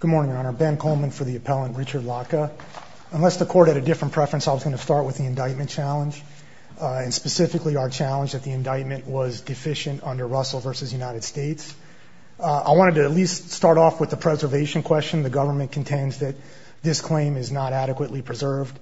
Good morning, Your Honor. Ben Coleman for the appellant Richard Latka. Unless the court had a different preference, I was going to start with the indictment challenge, and specifically our challenge that the indictment was deficient under Russell v. United States. I wanted to at least start off with the preservation question. The government contends that this claim is not adequately preserved.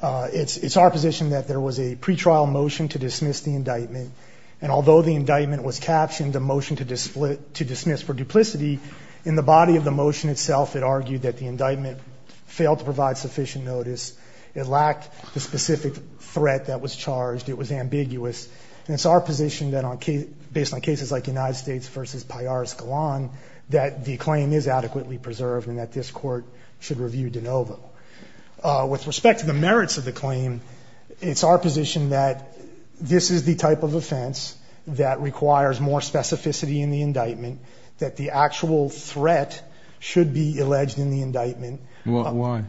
It's our position that there was a pretrial motion to dismiss the indictment, and although the indictment was captioned a motion to dismiss for duplicity, in the body of the motion itself it argued that the indictment failed to provide sufficient notice. It lacked the specific threat that was charged. It was ambiguous. And it's our position that based on cases like United States v. Piaris-Golan, that the claim is adequately preserved and that this court should review de novo. With respect to the merits of the claim, it's our position that this is the type of offense that requires more specificity in the indictment, that the actual threat should be alleged in the indictment. Why?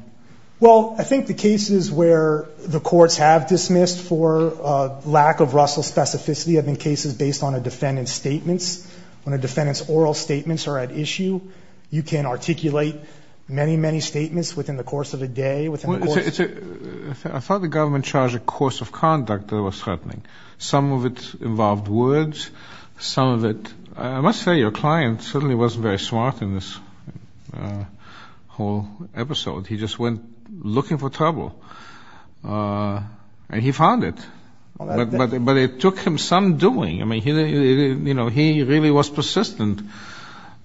Well, I think the cases where the courts have dismissed for lack of Russell specificity have been cases based on a defendant's statements. When a defendant's oral statements are at issue, you can articulate many, many statements within the course of a day. I thought the government charged a course of conduct that was threatening. Some of it involved words. I must say your client certainly wasn't very smart in this whole episode. He just went looking for trouble, and he found it. But it took him some doing. I mean, he really was persistent.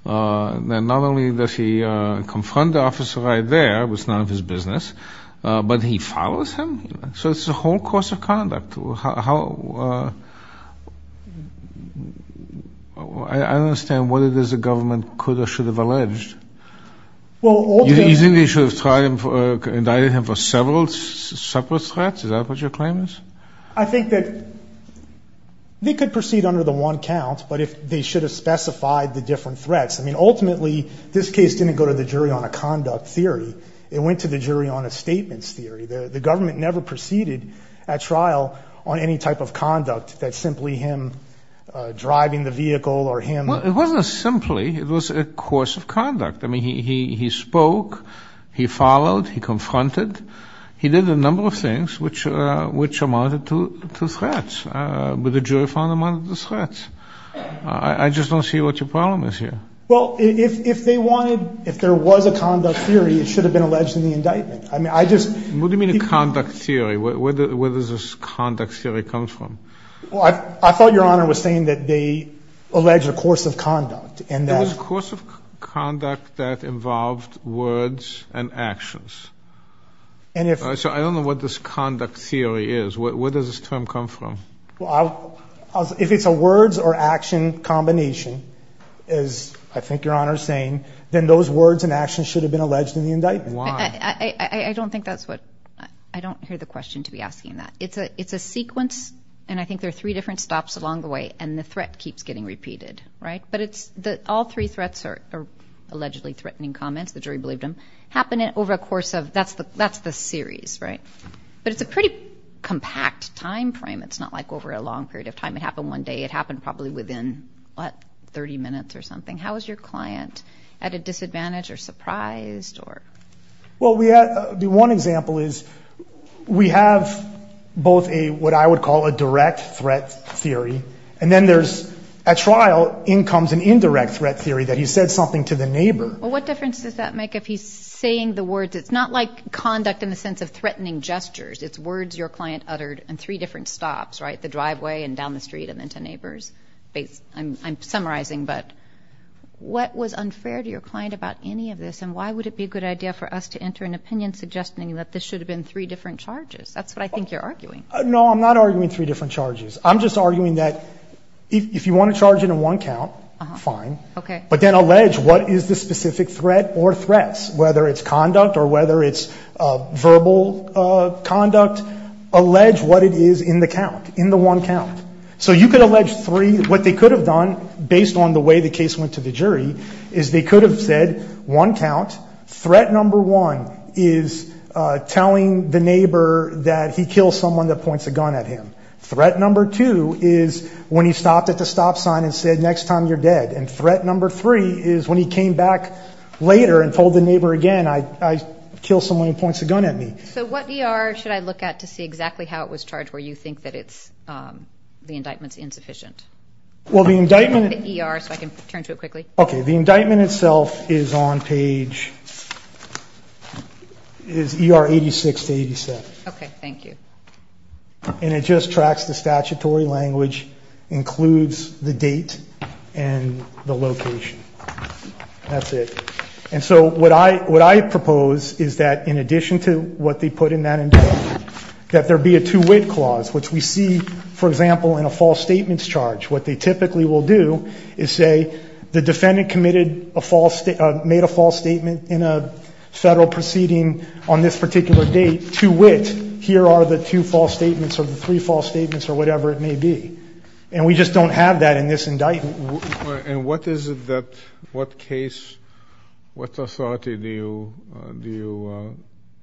Not only does he confront the officer right there, which is none of his business, but he follows him. So it's a whole course of conduct. I don't understand what it is the government could or should have alleged. You think they should have indicted him for several separate threats? Is that what your claim is? I think that they could proceed under the one count, but they should have specified the different threats. I mean, ultimately, this case didn't go to the jury on a conduct theory. It went to the jury on a statements theory. The government never proceeded at trial on any type of conduct that simply him driving the vehicle or him. Well, it wasn't simply. It was a course of conduct. I mean, he spoke, he followed, he confronted. He did a number of things which amounted to threats. But the jury found them under the threats. I just don't see what your problem is here. Well, if they wanted, if there was a conduct theory, it should have been alleged in the indictment. What do you mean a conduct theory? Where does this conduct theory come from? Well, I thought Your Honor was saying that they alleged a course of conduct. There was a course of conduct that involved words and actions. So I don't know what this conduct theory is. Where does this term come from? If it's a words or action combination, as I think Your Honor is saying, then those words and actions should have been alleged in the indictment. Why? I don't think that's what, I don't hear the question to be asking that. It's a sequence, and I think there are three different stops along the way, and the threat keeps getting repeated, right? But all three threats are allegedly threatening comments. The jury believed them. Happened over a course of, that's the series, right? But it's a pretty compact time frame. It's not like over a long period of time. It happened one day. It happened probably within, what, 30 minutes or something. How is your client? At a disadvantage or surprised or? Well, the one example is we have both what I would call a direct threat theory, and then there's, at trial, in comes an indirect threat theory that he said something to the neighbor. Well, what difference does that make if he's saying the words? It's not like conduct in the sense of threatening gestures. It's words your client uttered in three different stops, right? The driveway and down the street and then to neighbors. I'm summarizing, but what was unfair to your client about any of this, and why would it be a good idea for us to enter an opinion suggesting that this should have been three different charges? That's what I think you're arguing. No, I'm not arguing three different charges. I'm just arguing that if you want to charge it in one count, fine. Okay. But then allege what is the specific threat or threats, whether it's conduct or whether it's verbal conduct, allege what it is in the count, in the one count. So you could allege three. What they could have done, based on the way the case went to the jury, is they could have said one count, threat number one is telling the neighbor that he killed someone that points a gun at him. Threat number two is when he stopped at the stop sign and said, next time you're dead. And threat number three is when he came back later and told the neighbor again, I killed someone who points a gun at me. So what ER should I look at to see exactly how it was charged where you think that the indictment is insufficient? Well, the indictment – The ER, so I can turn to it quickly. Okay. The indictment itself is on page – is ER 86 to 87. Okay. Thank you. And it just tracks the statutory language, includes the date and the location. That's it. And so what I propose is that, in addition to what they put in that indictment, that there be a two-wit clause, which we see, for example, in a false statements charge. What they typically will do is say the defendant committed a false – made a false statement in a federal proceeding on this particular date. Here are the two false statements or the three false statements or whatever it may be. And we just don't have that in this indictment. And what is it that – what case – what authority do you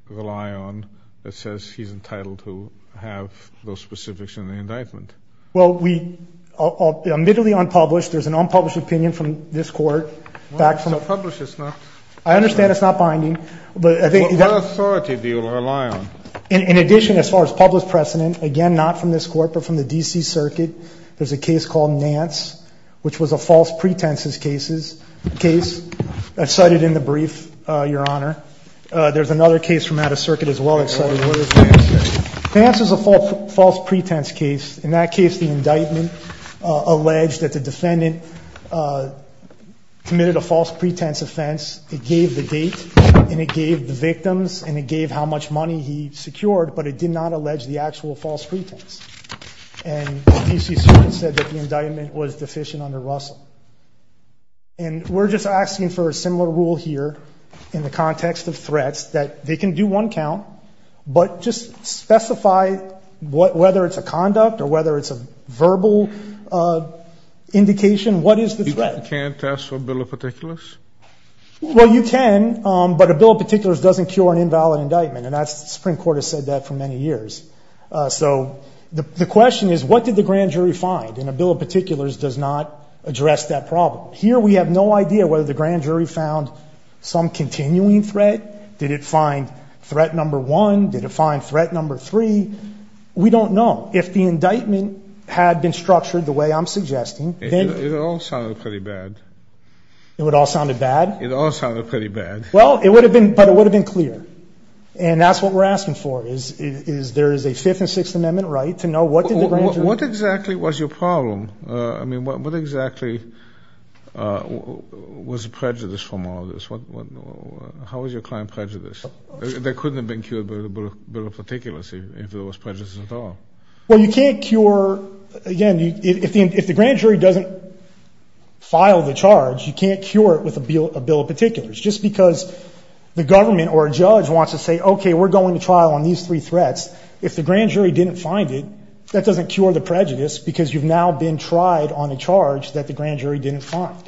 rely on that says he's entitled to have those specifics in the indictment? Well, we – admittedly unpublished. There's an unpublished opinion from this court. Well, unpublished is not – I understand it's not binding. But I think – What authority do you rely on? In addition, as far as published precedent, again, not from this court but from the D.C. Circuit, there's a case called Nance, which was a false pretenses cases – case cited in the brief, Your Honor. There's another case from out of circuit as well. What is Nance? Nance is a false pretense case. In that case, the indictment alleged that the defendant committed a false pretense offense. It gave the date, and it gave the victims, and it gave how much money he secured, but it did not allege the actual false pretense. And the D.C. Circuit said that the indictment was deficient under Russell. And we're just asking for a similar rule here in the context of threats that they can do one count, but just specify whether it's a conduct or whether it's a verbal indication. What is the threat? You can't test for a bill of particulars? Well, you can, but a bill of particulars doesn't cure an invalid indictment, and the Supreme Court has said that for many years. So the question is, what did the grand jury find? And a bill of particulars does not address that problem. Here we have no idea whether the grand jury found some continuing threat. Did it find threat number one? Did it find threat number three? We don't know. If the indictment had been structured the way I'm suggesting, then – It all sounded pretty bad. It all sounded bad? It all sounded pretty bad. Well, it would have been, but it would have been clear. And that's what we're asking for, is there is a Fifth and Sixth Amendment right to know what did the grand jury – What exactly was your problem? I mean, what exactly was the prejudice from all of this? How was your client prejudiced? They couldn't have been cured by the bill of particulars if there was prejudice at all. Well, you can't cure – again, if the grand jury doesn't file the charge, you can't cure it with a bill of particulars. Just because the government or a judge wants to say, okay, we're going to trial on these three threats, if the grand jury didn't find it, that doesn't cure the prejudice because you've now been tried on a charge that the grand jury didn't find.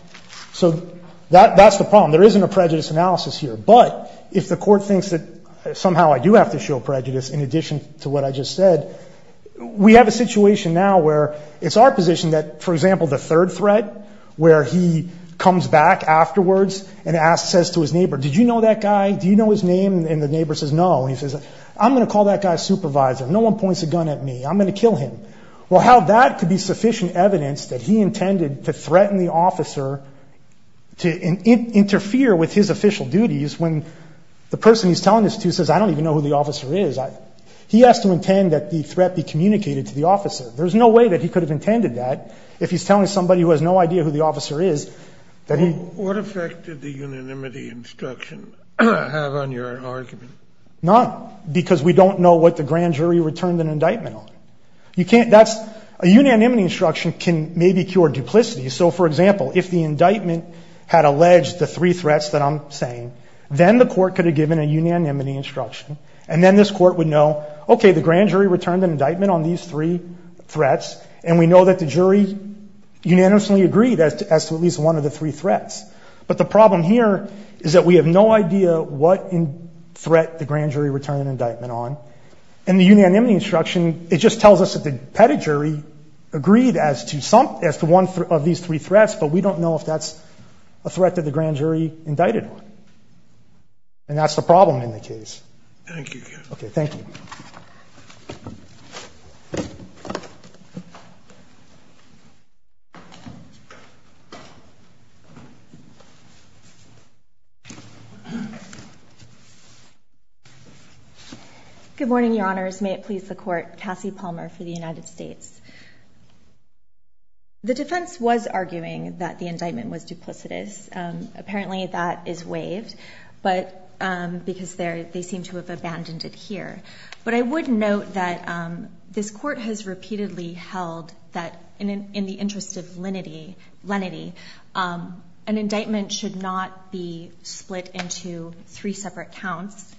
So that's the problem. There isn't a prejudice analysis here. But if the court thinks that somehow I do have to show prejudice in addition to what I just said, we have a situation now where it's our position that, for example, the third threat where he comes back afterwards and says to his neighbor, did you know that guy? Do you know his name? And the neighbor says no. And he says, I'm going to call that guy a supervisor. No one points a gun at me. I'm going to kill him. Well, how that could be sufficient evidence that he intended to threaten the officer to interfere with his official duties when the person he's telling this to says, I don't even know who the officer is. He has to intend that the threat be communicated to the officer. There's no way that he could have intended that if he's telling somebody who has no idea who the officer is. What effect did the unanimity instruction have on your argument? None, because we don't know what the grand jury returned an indictment on. A unanimity instruction can maybe cure duplicity. So, for example, if the indictment had alleged the three threats that I'm saying, then the court could have given a unanimity instruction. And then this court would know, okay, the grand jury returned an indictment on these three threats, and we know that the jury unanimously agreed as to at least one of the three threats. But the problem here is that we have no idea what threat the grand jury returned an indictment on. And the unanimity instruction, it just tells us that the petty jury agreed as to one of these three threats, but we don't know if that's a threat that the grand jury indicted on. And that's the problem in the case. Thank you. Okay, thank you. Good morning, Your Honors. May it please the Court. Cassie Palmer for the United States. The defense was arguing that the indictment was duplicitous. Apparently that is waived because they seem to have abandoned it here. But I would note that this court has repeatedly held that in the interest of lenity, an indictment should not be split into three separate counts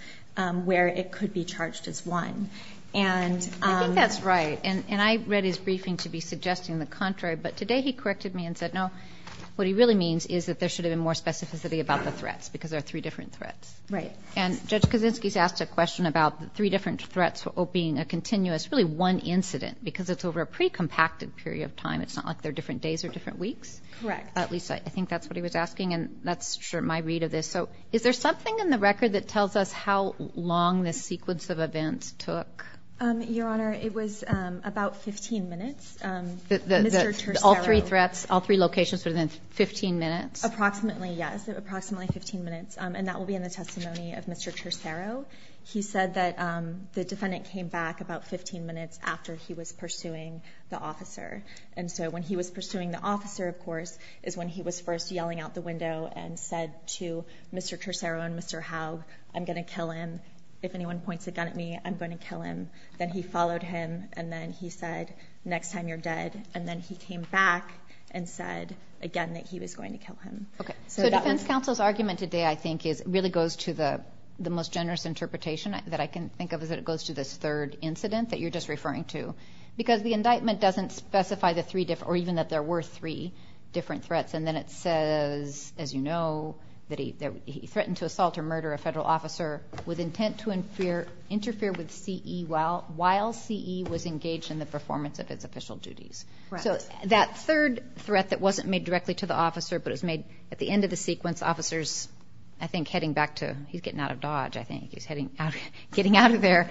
where it could be charged as one. I think that's right, and I read his briefing to be suggesting the contrary, but today he corrected me and said, no, what he really means is that there should have been more specificity about the threats because there are three different threats. And Judge Kaczynski has asked a question about the three different threats being a continuous, really one incident because it's over a pre-compacted period of time. It's not like they're different days or different weeks. Correct. At least I think that's what he was asking, and that's my read of this. So is there something in the record that tells us how long this sequence of events took? Your Honor, it was about 15 minutes. All three threats, all three locations within 15 minutes? Approximately, yes, approximately 15 minutes. And that will be in the testimony of Mr. Tercero. He said that the defendant came back about 15 minutes after he was pursuing the officer. And so when he was pursuing the officer, of course, is when he was first yelling out the window and said to Mr. Tercero and Mr. Howe, I'm going to kill him. If anyone points a gun at me, I'm going to kill him. Then he followed him, and then he said, next time you're dead. And then he came back and said again that he was going to kill him. So defense counsel's argument today, I think, really goes to the most generous interpretation that I can think of is that it goes to this third incident that you're just referring to because the indictment doesn't specify the three different or even that there were three different threats. And then it says, as you know, that he threatened to assault or murder a federal officer with intent to interfere with CE while CE was engaged in the performance of its official duties. So that third threat that wasn't made directly to the officer but was made at the end of the sequence, the officer's, I think, heading back to he's getting out of Dodge, I think. He's getting out of there.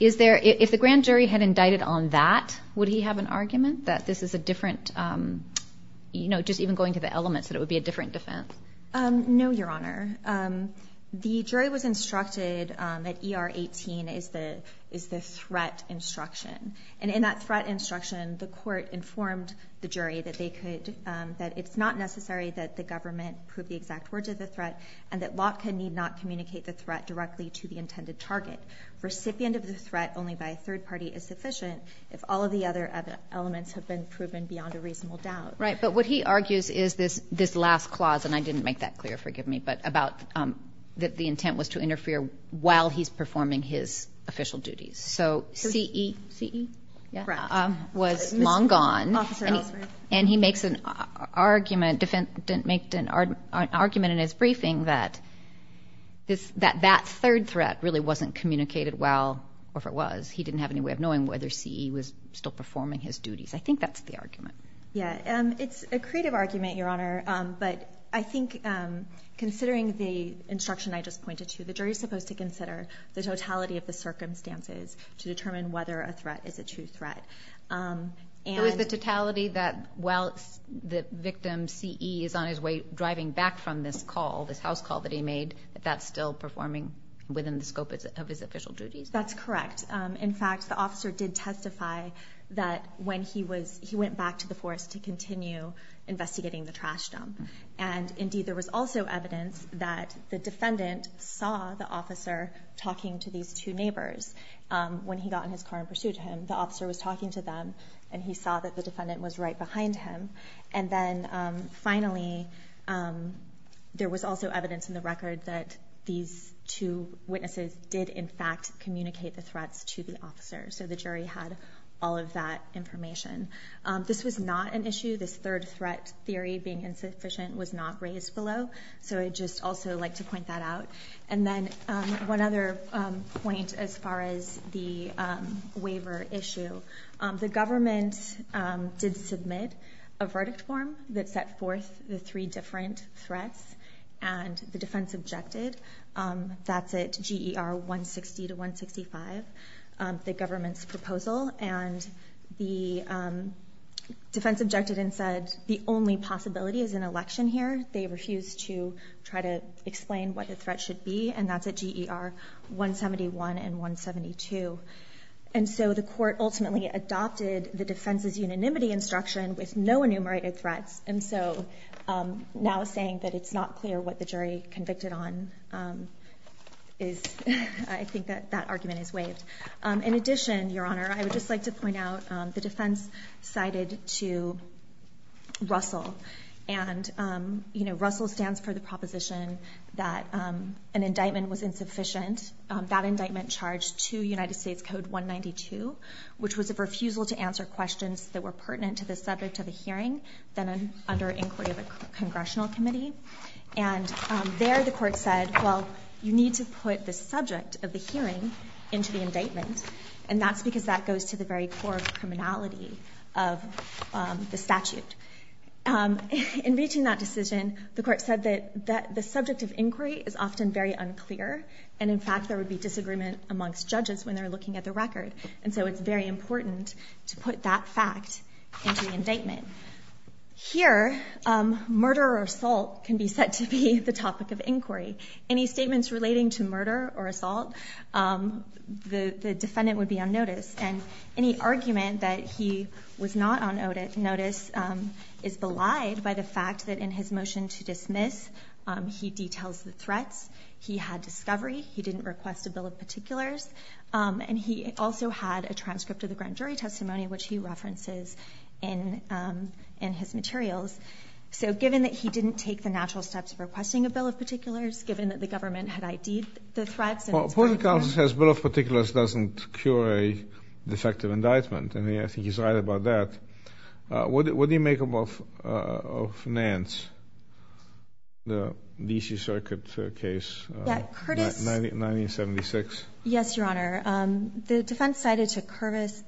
If the grand jury had indicted on that, would he have an argument that this is a different, just even going to the elements, that it would be a different defense? No, Your Honor. The jury was instructed that ER 18 is the threat instruction. And in that threat instruction, the court informed the jury that it's not necessary that the government prove the exact words of the threat and that Lotka need not communicate the threat directly to the intended target. Recipient of the threat only by a third party is sufficient if all of the other elements have been proven beyond a reasonable doubt. Right, but what he argues is this last clause, and I didn't make that clear, forgive me, but about that the intent was to interfere while he's performing his official duties. So CE was long gone. And he makes an argument in his briefing that that third threat really wasn't communicated well, or if it was, he didn't have any way of knowing whether CE was still performing his duties. I think that's the argument. Yeah, it's a creative argument, Your Honor, but I think considering the instruction I just pointed to, the jury's supposed to consider the totality of the circumstances to determine whether a threat is a true threat. So is the totality that while the victim, CE, is on his way driving back from this call, this house call that he made, that that's still performing within the scope of his official duties? That's correct. In fact, the officer did testify that when he went back to the forest to continue investigating the trash dump. And indeed there was also evidence that the defendant saw the officer was talking to them, and he saw that the defendant was right behind him. And then finally, there was also evidence in the record that these two witnesses did in fact communicate the threats to the officer. So the jury had all of that information. This was not an issue. This third threat theory being insufficient was not raised below. So I'd just also like to point that out. And then one other point as far as the waiver issue. The government did submit a verdict form that set forth the three different threats, and the defense objected. That's at GER 160 to 165, the government's proposal. And the defense objected and said the only possibility is an election here. They refused to try to explain what the threat should be, and that's at GER 171 and 172. And so the court ultimately adopted the defense's unanimity instruction with no enumerated threats. And so now saying that it's not clear what the jury convicted on is, I think that that argument is waived. In addition, Your Honor, I would just like to point out the defense cited to Russell. And, you know, Russell stands for the proposition that an indictment was insufficient. That indictment charged to United States Code 192, which was a refusal to answer questions that were pertinent to the subject of the hearing than under inquiry of a congressional committee. And there the court said, well, you need to put the subject of the hearing into the indictment, and that's because that goes to the very core of the criminality of the statute. In reaching that decision, the court said that the subject of inquiry is often very unclear, and in fact there would be disagreement amongst judges when they're looking at the record. And so it's very important to put that fact into the indictment. Here, murder or assault can be set to be the topic of inquiry. Any statements relating to murder or assault, the defendant would be on notice. And any argument that he was not on notice is belied by the fact that in his motion to dismiss, he details the threats, he had discovery, he didn't request a bill of particulars, and he also had a transcript of the grand jury testimony, which he references in his materials. So given that he didn't take the natural steps of requesting a bill of particulars, given that the government had ID'd the threats, Well, the court of counsel says bill of particulars doesn't cure a defective indictment, and I think he's right about that. What do you make of Nance, the D.C. Circuit case, 1976? Yes, Your Honor. The defense cited to Curtis,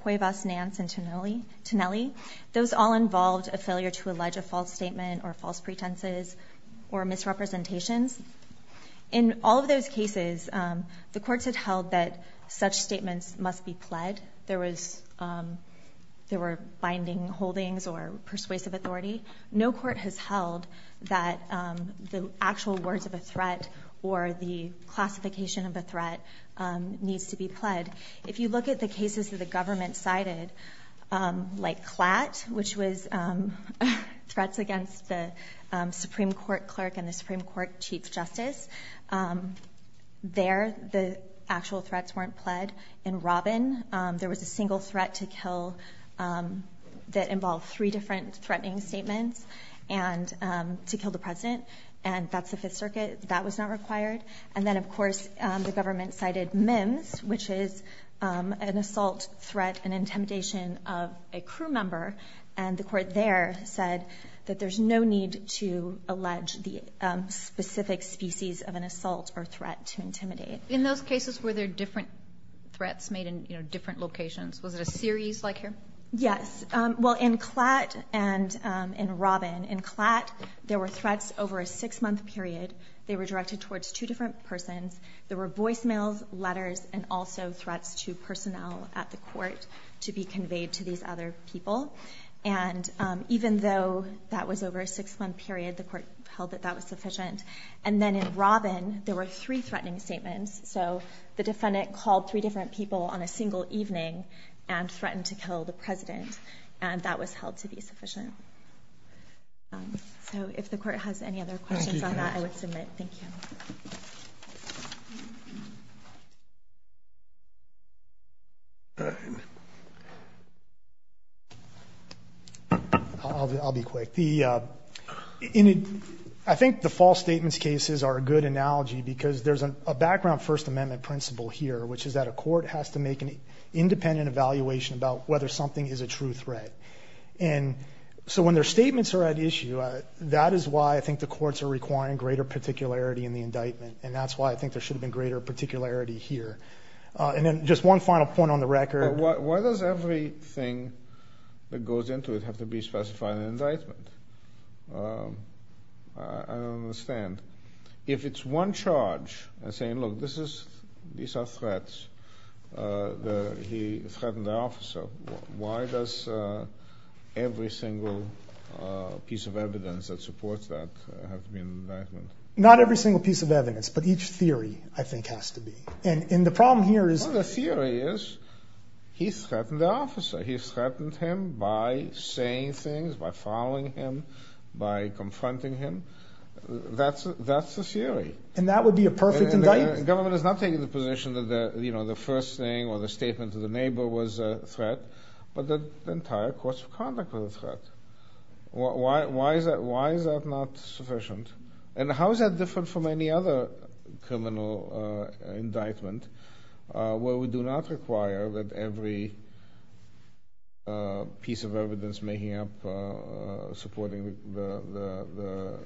Cuevas, Nance, and Tinelli, those all involved a failure to allege a false statement or false pretenses or misrepresentations. In all of those cases, the courts had held that such statements must be pled. There were binding holdings or persuasive authority. No court has held that the actual words of a threat or the classification of a threat needs to be pled. If you look at the cases that the government cited, like Klatt, which was threats against the Supreme Court clerk and the Supreme Court chief justice, there the actual threats weren't pled. In Robin, there was a single threat to kill that involved three different threatening statements to kill the president, and that's the Fifth Circuit. That was not required. And then, of course, the government cited Mims, which is an assault, threat, and intimidation of a crew member, and the court there said that there's no need to allege the specific species of an assault or threat to intimidate. In those cases, were there different threats made in different locations? Was it a series like here? Yes. Well, in Klatt and in Robin, in Klatt, there were threats over a six-month period. They were directed towards two different persons. There were voicemails, letters, and also threats to personnel at the court to be conveyed to these other people. And even though that was over a six-month period, the court held that that was sufficient. And then in Robin, there were three threatening statements. So the defendant called three different people on a single evening and threatened to kill the president, and that was held to be sufficient. So if the court has any other questions on that, I would submit. Thank you. I'll be quick. I think the false statements cases are a good analogy because there's a background First Amendment principle here, which is that a court has to make an independent evaluation about whether something is a true threat. And so when their statements are at issue, that is why I think the courts are requiring greater particularity in the indictment, and that's why I think there should have been greater particularity here. And then just one final point on the record. Why does everything that goes into it have to be specified in an indictment? I don't understand. If it's one charge and saying, look, these are threats, he threatened the officer, why does every single piece of evidence that supports that have to be in the indictment? Not every single piece of evidence, but each theory, I think, has to be. And the problem here is... Part of the theory is he threatened the officer. He threatened him by saying things, by following him, by confronting him. That's the theory. And that would be a perfect indictment? Government is not taking the position that the first thing or the statement to the neighbor was a threat, but the entire course of conduct was a threat. Why is that not sufficient? And how is that different from any other criminal indictment? Where we do not require that every piece of evidence making up supporting the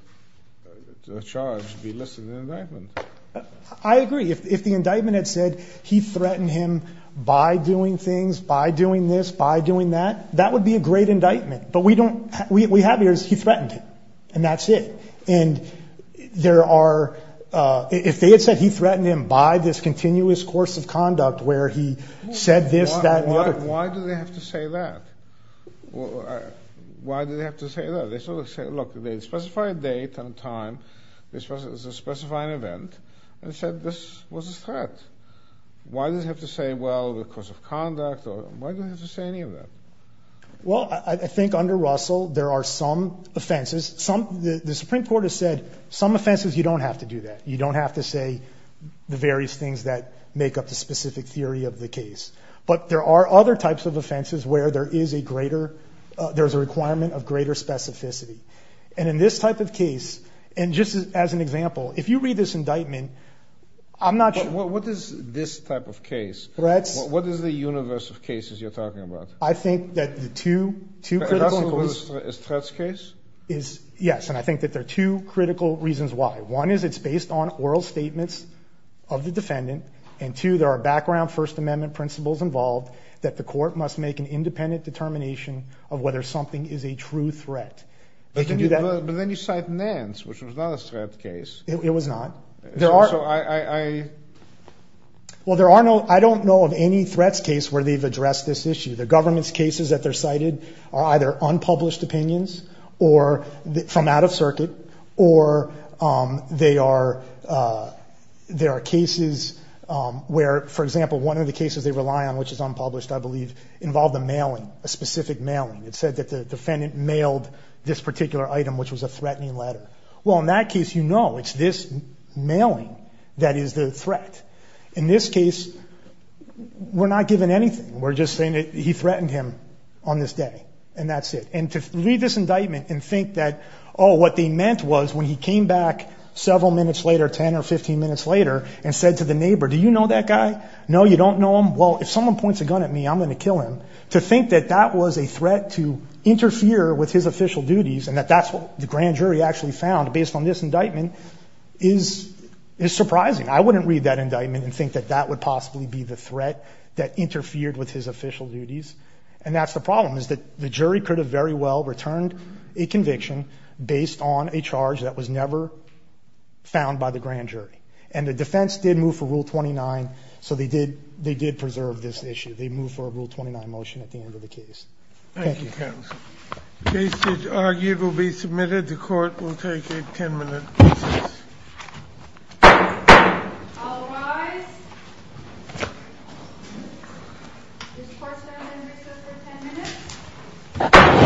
charge be listed in the indictment. I agree. If the indictment had said he threatened him by doing things, by doing this, by doing that, that would be a great indictment. But what we have here is he threatened him, and that's it. And there are... If they had said he threatened him by this continuous course of conduct where he said this, that, and the other... Why do they have to say that? Why do they have to say that? They sort of say, look, they specify a date and a time. They specify an event. They said this was a threat. Why do they have to say, well, the course of conduct? Why do they have to say any of that? Well, I think under Russell there are some offenses. The Supreme Court has said some offenses you don't have to do that. You don't have to say the various things that make up the specific theory of the case. But there are other types of offenses where there is a greater... there's a requirement of greater specificity. And in this type of case, and just as an example, if you read this indictment, I'm not sure... But what is this type of case? What is the universe of cases you're talking about? I think that the two critical... Yes, and I think that there are two critical reasons why. One is it's based on oral statements of the defendant. And two, there are background First Amendment principles involved that the court must make an independent determination of whether something is a true threat. But then you cite Nance, which was not a threat case. It was not. So I... Well, there are no... I don't know of any threats case where they've addressed this issue. The government's cases that they're cited are either unpublished opinions or from out of circuit. Or there are cases where, for example, one of the cases they rely on, which is unpublished, I believe, involved a mailing, a specific mailing. It said that the defendant mailed this particular item, which was a threatening letter. Well, in that case, you know it's this mailing that is the threat. In this case, we're not given anything. We're just saying that he threatened him on this day, and that's it. And to read this indictment and think that, oh, what they meant was when he came back several minutes later, 10 or 15 minutes later, and said to the neighbor, do you know that guy? No, you don't know him? Well, if someone points a gun at me, I'm going to kill him. To think that that was a threat to interfere with his official duties and that that's what the grand jury actually found based on this indictment is surprising. I wouldn't read that indictment and think that that would possibly be the threat that interfered with his official duties. And that's the problem is that the jury could have very well returned a conviction based on a charge that was never found by the grand jury. And the defense did move for Rule 29, so they did preserve this issue. They moved for a Rule 29 motion at the end of the case. Thank you. Thank you, counsel. The case is argued will be submitted. The Court will take a 10-minute recess. All rise. This court is now in recess for 10 minutes.